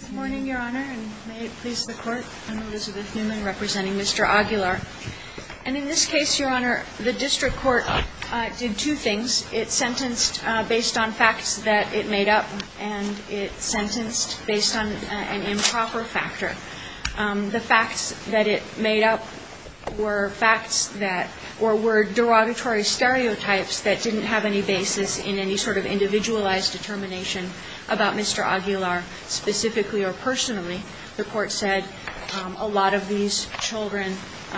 Good morning, Your Honor, and may it please the Court. I'm Elizabeth Newman representing Mr. Aguilar. And in this case, Your Honor, the district court did two things. It sentenced based on facts that it made up, and it sentenced based on an improper factor. The facts that it made up were facts that, or were derogatory stereotypes that didn't have any basis in any sort of individualized determination about Mr. Aguilar, specifically or personally. The Court said a lot of these children,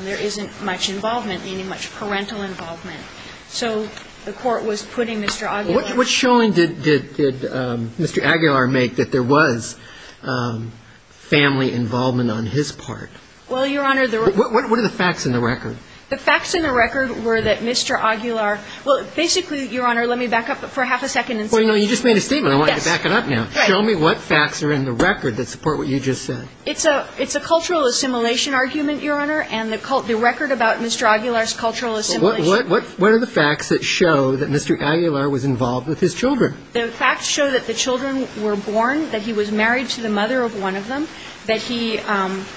there isn't much involvement, meaning much parental involvement. So the Court was putting Mr. Aguilar... What showing did Mr. Aguilar make that there was family involvement on his part? Well, Your Honor, the... What are the facts in the record? The facts in the record were that Mr. Aguilar, well, basically, Your Honor, let me back up for half a second and say... Well, no, you just made a statement. Yes. Let me back it up now. Right. Show me what facts are in the record that support what you just said. It's a cultural assimilation argument, Your Honor, and the record about Mr. Aguilar's cultural assimilation... Well, what are the facts that show that Mr. Aguilar was involved with his children? The facts show that the children were born, that he was married to the mother of one of them, that he... that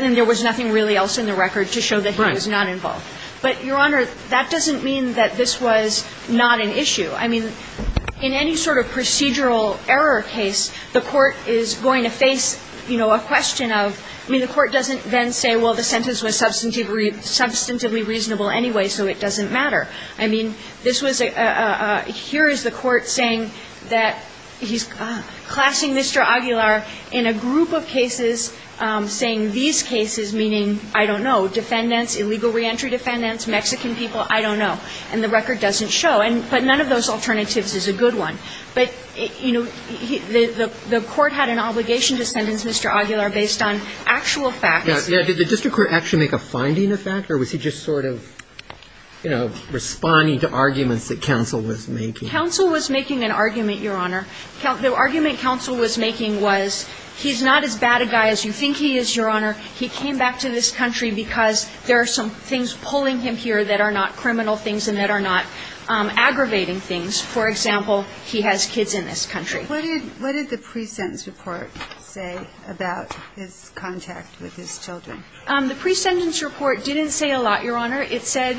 there was nothing really else in the record to show that he was not involved. But, Your Honor, that doesn't mean that this was not an issue. I mean, in any sort of procedural error case, the court is going to face, you know, a question of... I mean, the court doesn't then say, well, the sentence was substantively reasonable anyway, so it doesn't matter. I mean, this was a... Here is the court saying that he's classing Mr. Aguilar in a group of cases saying these cases, meaning, I don't know, defendants, illegal reentry defendants, Mexican people, I don't know. And the record doesn't show. But none of those alternatives is a good one. But, you know, the court had an obligation to sentence Mr. Aguilar based on actual facts. Did the district court actually make a finding of that? Or was he just sort of, you know, responding to arguments that counsel was making? Counsel was making an argument, Your Honor. The argument counsel was making was, he's not as bad a guy as you think he is, Your Honor. He came back to this country because there are some things pulling him here that are not criminal things and that are not aggravating things. For example, he has kids in this country. What did the pre-sentence report say about his contact with his children? The pre-sentence report didn't say a lot, Your Honor. It said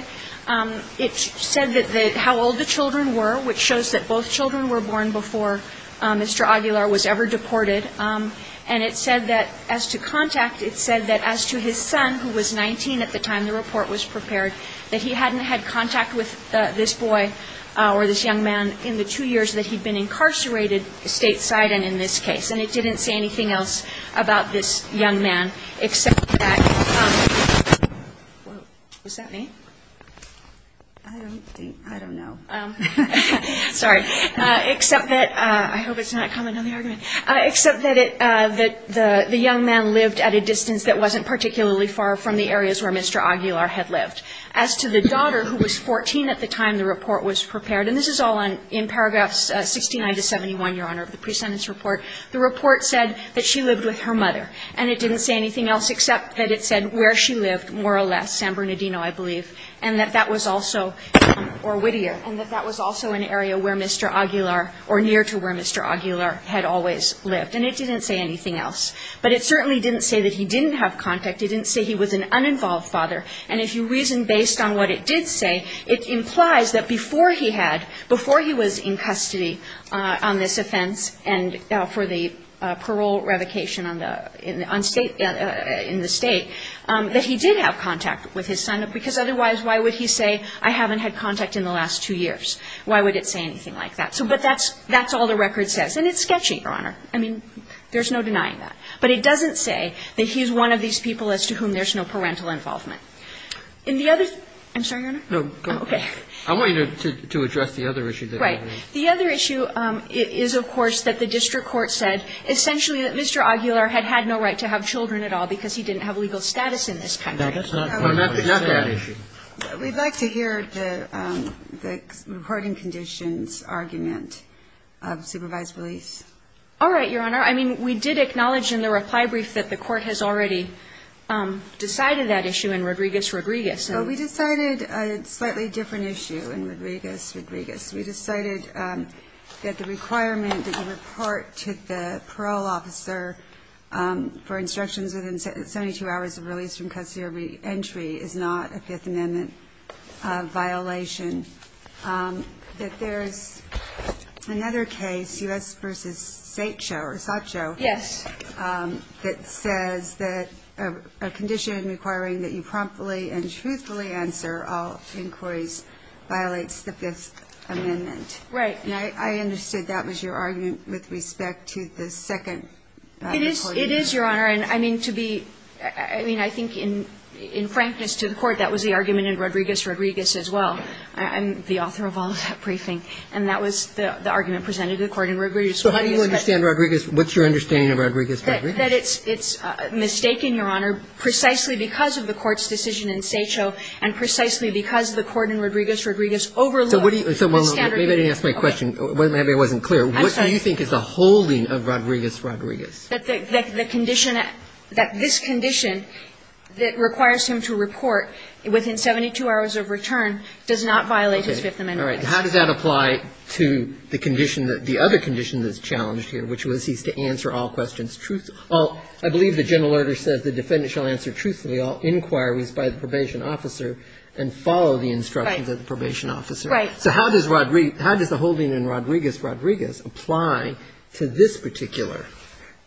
that how old the children were, which shows that both children were born before Mr. Aguilar was ever deported. And it said that as to contact, it said that as to his son, who was 19 at the time the report was prepared, that he hadn't had contact with this boy or this young man in the two years that he'd been incarcerated stateside and in this case. And it didn't say anything else about this young man, except that — was that me? I don't think — I don't know. Sorry. Except that — I hope it's not a comment on the argument. Except that the young man lived at a distance that wasn't particularly far from the areas where Mr. Aguilar had lived. As to the daughter, who was 14 at the time the report was prepared, and this is all in paragraphs 69 to 71, Your Honor, of the pre-sentence report, the report said that she lived with her mother, and it didn't say anything else except that it said where she lived more or less, San Bernardino, I believe, and that that was also — or Whittier — and that that was also an area where Mr. Aguilar or near to where Mr. Aguilar had always lived. And it didn't say anything else. But it certainly didn't say that he didn't have contact. It didn't say he was an uninvolved father. And if you reason based on what it did say, it implies that before he had — before he was in custody on this offense and for the parole revocation in the state, that he did have contact with his son. Because otherwise, why would he say, I haven't had contact in the last two years? Why would it say anything like that? But that's all the record says. And it's sketchy, Your Honor. I mean, there's no denying that. But it doesn't say that he's one of these people as to whom there's no parental involvement. In the other — I'm sorry, Your Honor? Roberts. No. Go ahead. I want you to address the other issue. Right. The other issue is, of course, that the district court said essentially that Mr. Aguilar had had no right to have children at all because he didn't have legal status in this country. No, that's not part of the issue. We'd like to hear the reporting conditions argument of supervised release. All right, Your Honor. I mean, we did acknowledge in the reply brief that the court has already decided that issue in Rodriguez-Rodriguez. Well, we decided a slightly different issue in Rodriguez-Rodriguez. We decided that the requirement that you report to the parole officer for instructions within 72 hours of release from custody or reentry is not a Fifth Amendment violation, that there's another case, U.S. v. Satcho, that says that a condition requiring that you promptly and truthfully answer all inquiries violates the Fifth Amendment. Right. And I understood that was your argument with respect to the second report. It is, Your Honor. And I mean, to be — I mean, I think in frankness to the Court, that was the argument in Rodriguez-Rodriguez as well. I'm the author of all of that briefing. And that was the argument presented to the Court in Rodriguez-Rodriguez. So how do you understand Rodriguez? What's your understanding of Rodriguez-Rodriguez? I understand that it's mistaken, Your Honor, precisely because of the Court's decision in Satcho and precisely because the Court in Rodriguez-Rodriguez overlooked the standard. So maybe I didn't ask my question. Maybe I wasn't clear. I'm sorry. What do you think is the holding of Rodriguez-Rodriguez? That the condition — that this condition that requires him to report within 72 hours of return does not violate his Fifth Amendment rights. Okay. All right. How does that apply to the condition that — the other condition that's challenged here, which was he's to answer all questions truthfully. I believe the general order says the defendant shall answer truthfully all inquiries by the probation officer and follow the instructions of the probation officer. Right. So how does the holding in Rodriguez-Rodriguez apply to this particular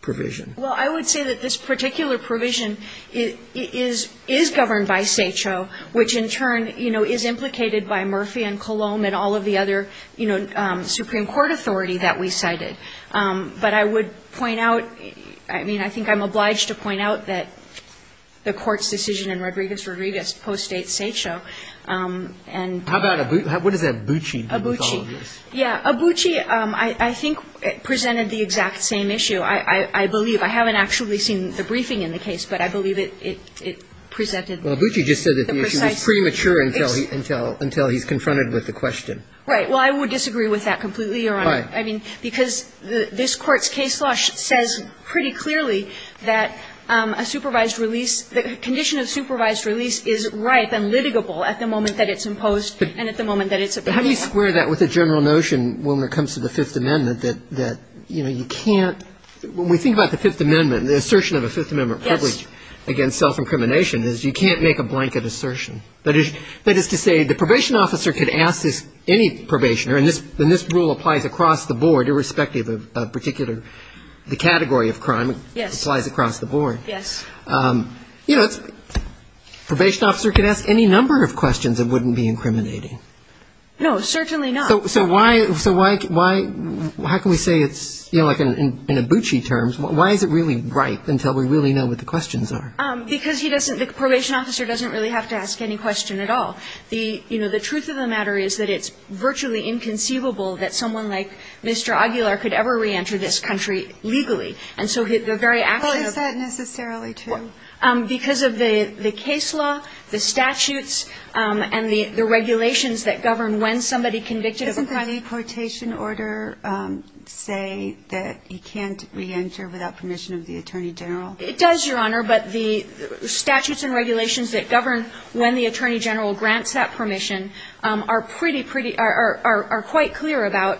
provision? Well, I would say that this particular provision is governed by Satcho, which in turn, you know, is implicated by Murphy and Cologne and all of the other, you know, Supreme Court authority that we cited. But I would point out — I mean, I think I'm obliged to point out that the Court's decision in Rodriguez-Rodriguez postdates Satcho. And — How about — what is that, Bucci? Bucci. Yeah. Bucci, I think, presented the exact same issue. I believe — I haven't actually seen the briefing in the case, but I believe it presented the precise — Well, Bucci just said that the issue was premature until he's confronted with the question. Right. Well, I would disagree with that completely, Your Honor. Right. I mean, because this Court's case law says pretty clearly that a supervised release — the condition of supervised release is ripe and litigable at the moment that it's imposed and at the moment that it's approved. But how do you square that with a general notion when it comes to the Fifth Amendment that, you know, you can't — when we think about the Fifth Amendment, the assertion of a Fifth Amendment privilege against self-incrimination is you can't make a blanket assertion. That is to say, the probation officer could ask this — any probationer, and this rule applies across the board, irrespective of particular — the category of crime. Yes. It applies across the board. Yes. You know, it's — probation officer could ask any number of questions and wouldn't be incriminating. No, certainly not. So why — so why can we say it's, you know, like in Bucci terms, why is it really ripe until we really know what the questions are? Because he doesn't — the probation officer doesn't really have to ask any question at all. The — you know, the truth of the matter is that it's virtually inconceivable that someone like Mr. Aguilar could ever reenter this country legally. And so the very action of — Well, is that necessarily true? Because of the case law, the statutes, and the regulations that govern when somebody convicted of a crime — Doesn't the deportation order say that he can't reenter without permission of the attorney general? It does, Your Honor. But the statutes and regulations that govern when the attorney general grants that permission are pretty — are quite clear about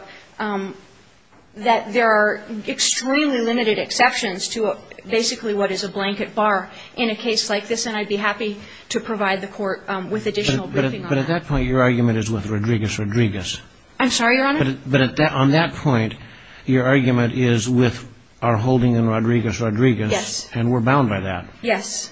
that there are extremely limited exceptions to basically what is a blanket bar in a case like this. And I'd be happy to provide the Court with additional briefing on that. But at that point, your argument is with Rodriguez-Rodriguez. I'm sorry, Your Honor? But on that point, your argument is with our holding in Rodriguez-Rodriguez. Yes. And we're bound by that. Yes.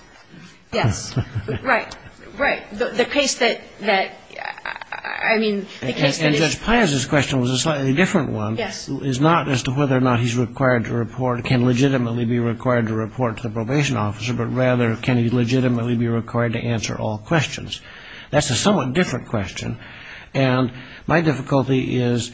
Yes. Right. Right. The case that — I mean, the case that is — And Judge Pines' question was a slightly different one. Yes. It's not as to whether or not he's required to report — can legitimately be required to report to the probation officer, but rather can he legitimately be required to answer all questions. That's a somewhat different question. And my difficulty is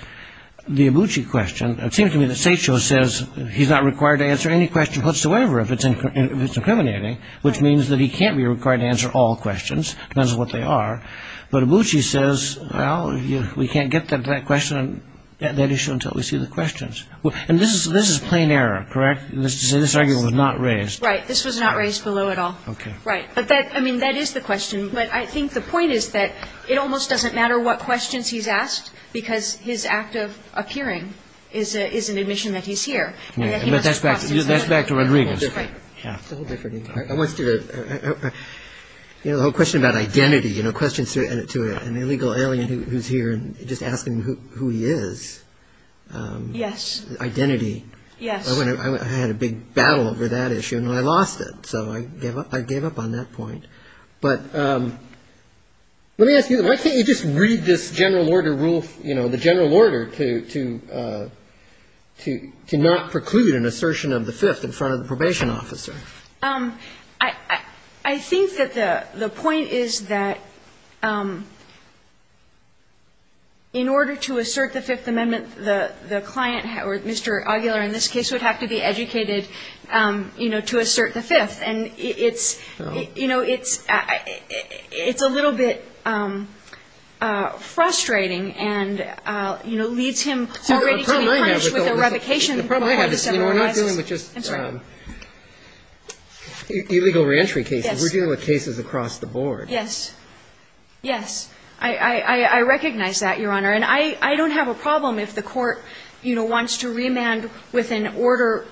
the Abucci question. It seems to me that Satcho says he's not required to answer any question whatsoever if it's incriminating, which means that he can't be required to answer all questions, depends on what they are. But Abucci says, well, we can't get to that question — that issue until we see the questions. And this is plain error, correct? This argument was not raised. Right. This was not raised below at all. Okay. Right. But that — I mean, that is the question. But I think the point is that it almost doesn't matter what questions he's asked because his act of appearing is an admission that he's here and that he must process it. That's back to Rodriguez. Right. It's a whole different inquiry. I wanted to — you know, the whole question about identity, you know, questions to an illegal alien who's here and just asking who he is. Yes. Identity. Yes. I had a big battle over that issue, and I lost it. So I gave up on that point. But let me ask you, why can't you just read this general order rule, you know, the general order to not preclude an assertion of the Fifth in front of the probation officer? I think that the point is that in order to assert the Fifth Amendment, the client or Mr. Aguilar in this case would have to be educated, you know, to assert the Fifth. And it's — you know, it's a little bit frustrating and, you know, leads him already to be punished with a revocation. The problem I have is, you know, we're not dealing with just illegal reentry cases. Yes. We're dealing with cases across the board. Yes. Yes. I recognize that, Your Honor. And I don't have a problem if the court, you know, wants to remand with an order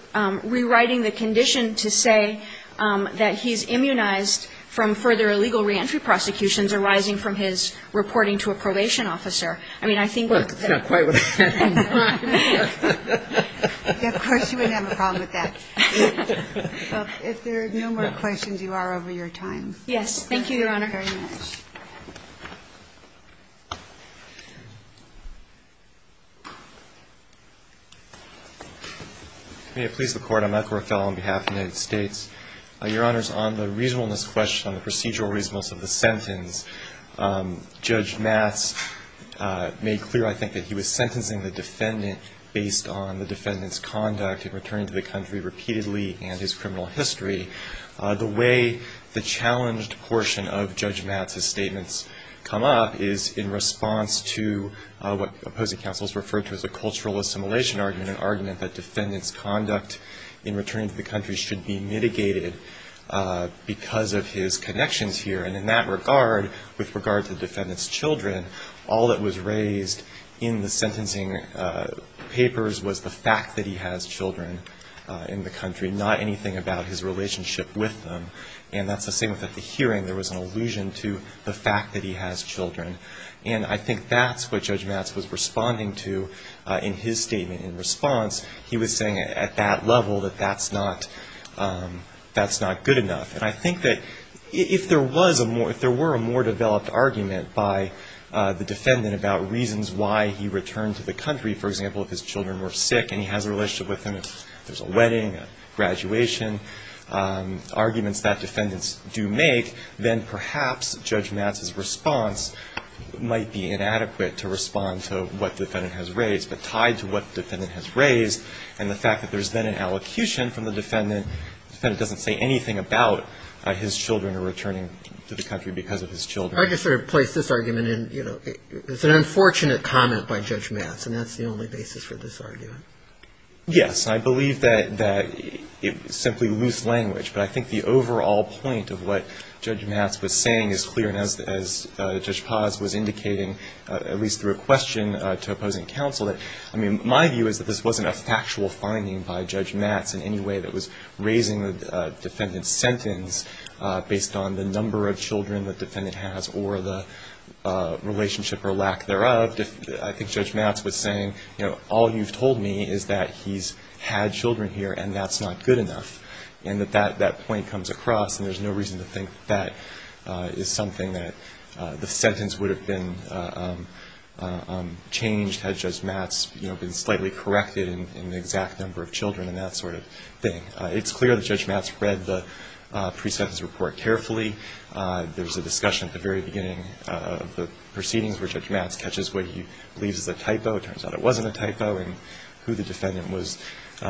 rewriting the condition to say that he's immunized from further illegal reentry prosecutions arising from his reporting to a probation officer. I mean, I think what the — Well, it's not quite what I had in mind. Of course, you wouldn't have a problem with that. So if there are no more questions, you are over your time. Yes. Thank you, Your Honor. Thank you very much. May it please the Court. I'm Ethel Othell on behalf of the United States. Your Honors, on the reasonableness question, on the procedural reasonableness of the sentence, Judge Matz made clear, I think, that he was sentencing the defendant based on the defendant's conduct in returning to the country repeatedly and his criminal history. The way the challenged portion of Judge Matz's statements come up is in response to what opposing counsels referred to as a cultural assimilation argument, an argument that defendant's conduct in returning to the country should be mitigated because of his connections here. And in that regard, with regard to the defendant's children, all that was raised in the sentencing papers was the fact that he has children in the country, not anything about his relationship with them. And that's the same with the hearing. There was an allusion to the fact that he has children. And I think that's what Judge Matz was responding to in his statement in response. He was saying at that level that that's not good enough. And I think that if there were a more developed argument by the defendant about reasons why he returned to the country, for example, if his children were sick and he has a relationship with them, if there's a wedding, a graduation, arguments that defendants do make, then perhaps Judge Matz's response might be inadequate to respond to what the defendant has raised, but tied to what the defendant has raised and the fact that there's then an allocution from the defendant, the defendant doesn't say anything about his children are returning to the country because of his children. I just sort of place this argument in, you know, it's an unfortunate comment by Judge Matz, and that's the only basis for this argument. Yes. I believe that it's simply loose language. But I think the overall point of what Judge Matz was saying is clear. And as Judge Paz was indicating, at least through a question to opposing counsel, I mean, my view is that this wasn't a factual finding by Judge Matz in any way that was raising the defendant's sentence based on the number of children the defendant has or the relationship or lack thereof. But I think Judge Matz was saying, you know, all you've told me is that he's had children here and that's not good enough. And that that point comes across, and there's no reason to think that is something that the sentence would have been changed had Judge Matz, you know, been slightly corrected in the exact number of children and that sort of thing. It's clear that Judge Matz read the pre-sentence report carefully. There was a discussion at the very beginning of the proceedings where Judge Matz catches what he believes is a typo. It turns out it wasn't a typo, and who the defendant was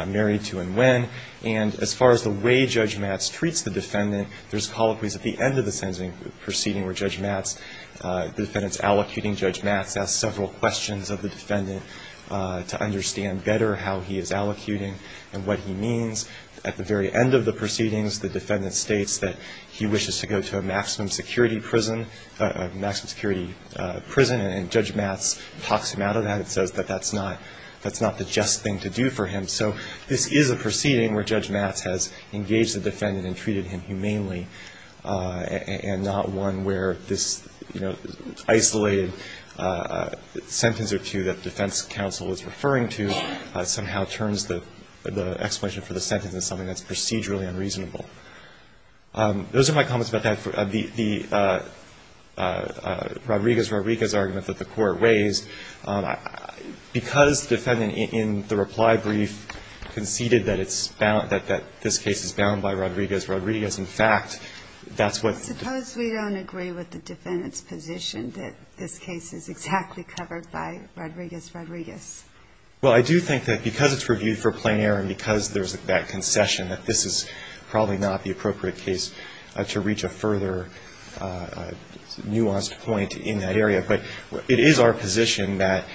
married to and when. And as far as the way Judge Matz treats the defendant, there's colloquies at the end of the sentencing proceeding where Judge Matz, the defendant's allocuting Judge Matz, asks several questions of the defendant to understand better how he is allocuting and what he means. At the very end of the proceedings, the defendant states that he wishes to go to a maximum security prison, a maximum security prison. And Judge Matz talks him out of that and says that that's not, that's not the just thing to do for him. So this is a proceeding where Judge Matz has engaged the defendant and treated him humanely and not one where this, you know, isolated sentence or two that the defense counsel is referring to somehow turns the explanation for the sentence into something that's procedurally unreasonable. Those are my comments about that. The Rodriguez-Rodriguez argument that the Court raised, because the defendant in the reply brief conceded that it's bound, that this case is bound by Rodriguez-Rodriguez, in fact, that's what. Suppose we don't agree with the defendant's position that this case is exactly covered by Rodriguez-Rodriguez. Well, I do think that because it's reviewed for plein air and because there's that concession that this is probably not the appropriate case to reach a further nuanced point in that area. But it is our position that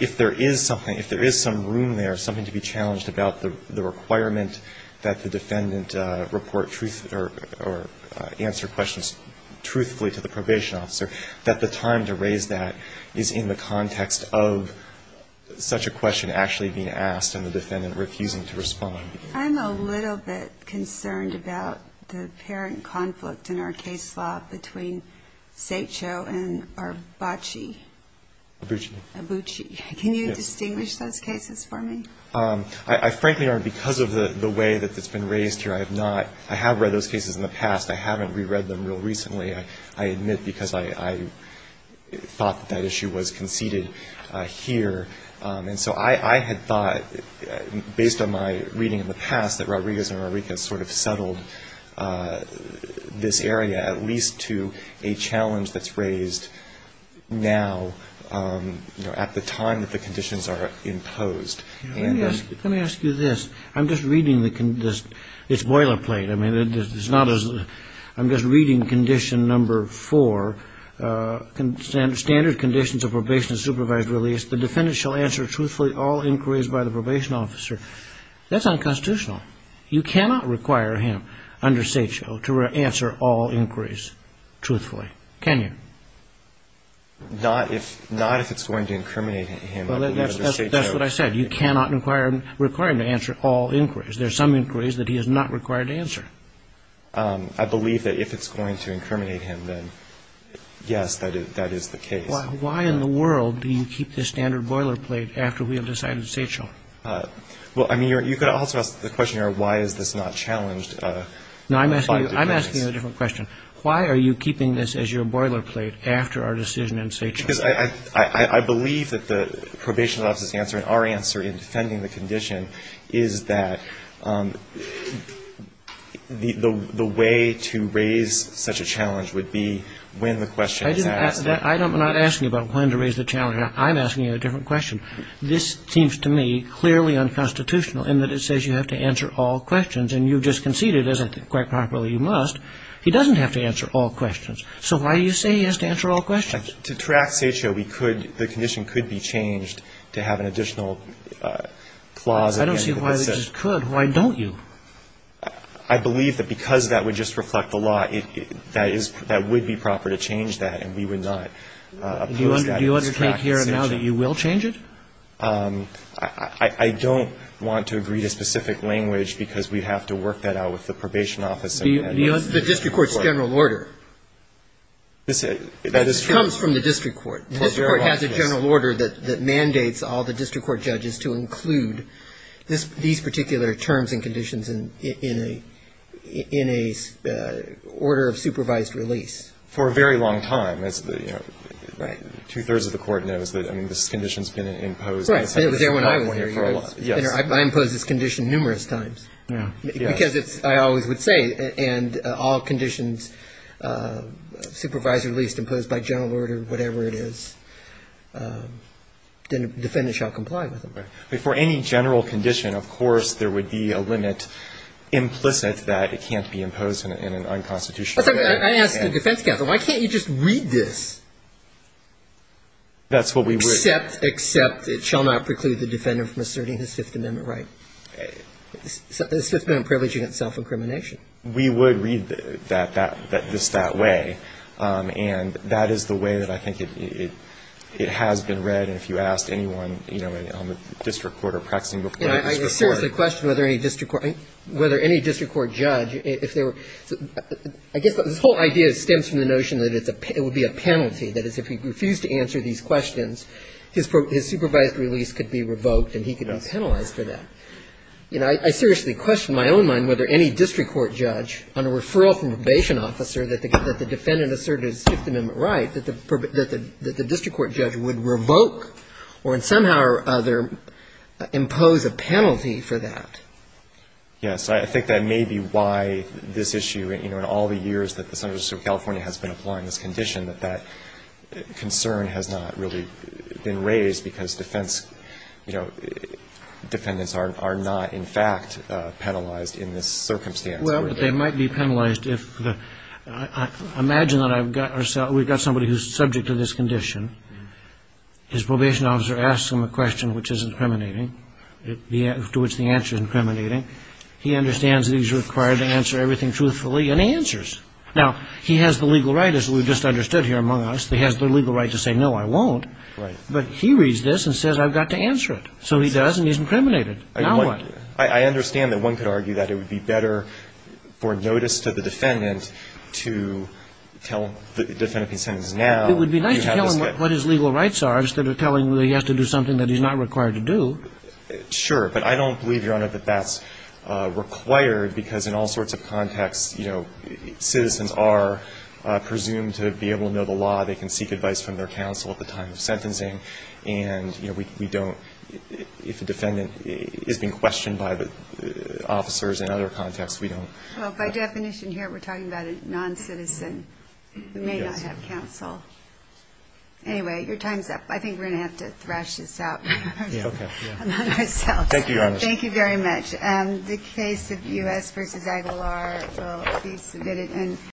if there is something, if there is some room there, something to be challenged about the requirement that the defendant report truth or answer questions truthfully to the probation officer, that the time to raise that is in the context of such a question actually being asked and the defendant refusing to respond. I'm a little bit concerned about the apparent conflict in our case law between Satcho and Arbaci. Abuchi. Abuchi. Can you distinguish those cases for me? I frankly aren't because of the way that it's been raised here. I have not. I have read those cases in the past. I haven't reread them real recently. I admit because I thought that that issue was conceded here. And so I had thought, based on my reading in the past, that Rodriguez-Rodriguez sort of settled this area at least to a challenge that's raised now, you know, at the time that the conditions are imposed. Let me ask you this. I'm just reading the conditions. It's boilerplate. I'm just reading condition number four, standard conditions of probation and supervised release. The defendant shall answer truthfully all inquiries by the probation officer. That's unconstitutional. You cannot require him under Satcho to answer all inquiries truthfully. Can you? Not if it's going to incriminate him. That's what I said. You cannot require him to answer all inquiries. There are some inquiries that he is not required to answer. I believe that if it's going to incriminate him, then, yes, that is the case. Well, why in the world do you keep this standard boilerplate after we have decided Satcho? Well, I mean, you could also ask the question, why is this not challenged? No, I'm asking you a different question. Why are you keeping this as your boilerplate after our decision in Satcho? Because I believe that the probation officer's answer and our answer in defending the condition is that the way to raise such a challenge would be when the question is asked. I'm not asking you about when to raise the challenge. I'm asking you a different question. This seems to me clearly unconstitutional in that it says you have to answer all questions, and you've just conceded, as I think quite properly, you must. He doesn't have to answer all questions. So why do you say he has to answer all questions? To track Satcho, we could, the condition could be changed to have an additional clause at the end of the decision. I don't see why it just could. Why don't you? I believe that because that would just reflect the law, that is, that would be proper to change that, and we would not oppose that. Do you undertake here now that you will change it? I don't want to agree to specific language because we'd have to work that out with the probation officer. The district court's general order. That is true. It comes from the district court. The district court has a general order that mandates all the district court judges to include these particular terms and conditions in a order of supervised release. For a very long time. Right. Two-thirds of the court knows that, I mean, this condition has been imposed. Right. It was there when I was here. I imposed this condition numerous times. Yeah. Because it's, I always would say, and all conditions, supervised release imposed by general order, whatever it is, then the defendant shall comply with it. Right. For any general condition, of course, there would be a limit implicit that it can't be imposed in an unconstitutional way. I asked the defense counsel, why can't you just read this? That's what we would. Except it shall not preclude the defendant from asserting his Fifth Amendment right. The Fifth Amendment privilege is self-incrimination. We would read that that way. And that is the way that I think it has been read. And if you asked anyone, you know, on the district court or practicing before the district court. I seriously question whether any district court judge, if they were, I guess this whole idea stems from the notion that it would be a penalty. That is, if he refused to answer these questions, his supervised release could be revoked and he could be penalized for that. You know, I seriously question in my own mind whether any district court judge on a referral from a probation officer that the defendant asserted his Fifth Amendment right, that the district court judge would revoke or somehow or other impose a penalty for that. Yes. I think that may be why this issue, you know, in all the years that the Senate of California has been applying this condition, that that concern has not really been raised because defense, you know, defendants are not in fact penalized in this circumstance. Well, but they might be penalized if the – imagine that I've got – we've got somebody who's subject to this condition. His probation officer asks him a question which is incriminating, to which the answer is incriminating. He understands that he's required to answer everything truthfully, and he answers. Now, he has the legal right, as we've just understood here among us, he has the legal right to say, no, I won't. Right. But he reads this and says, I've got to answer it. So he does, and he's incriminated. Now what? I understand that one could argue that it would be better for notice to the defendant to tell the defendant he's sentenced now. It would be nice to tell him what his legal rights are instead of telling him that he has to do something that he's not required to do. Sure. But I don't believe, Your Honor, that that's required because in all sorts of contexts, you know, citizens are presumed to be able to know the law. They can seek advice from their counsel at the time of sentencing, and, you know, we don't, if a defendant is being questioned by the officers in other contexts, we don't. Well, by definition here, we're talking about a noncitizen who may not have counsel. Anyway, your time's up. I think we're going to have to thrash this out among ourselves. Thank you, Your Honor. Thank you very much. The case of U.S. v. Aguilar will be submitted.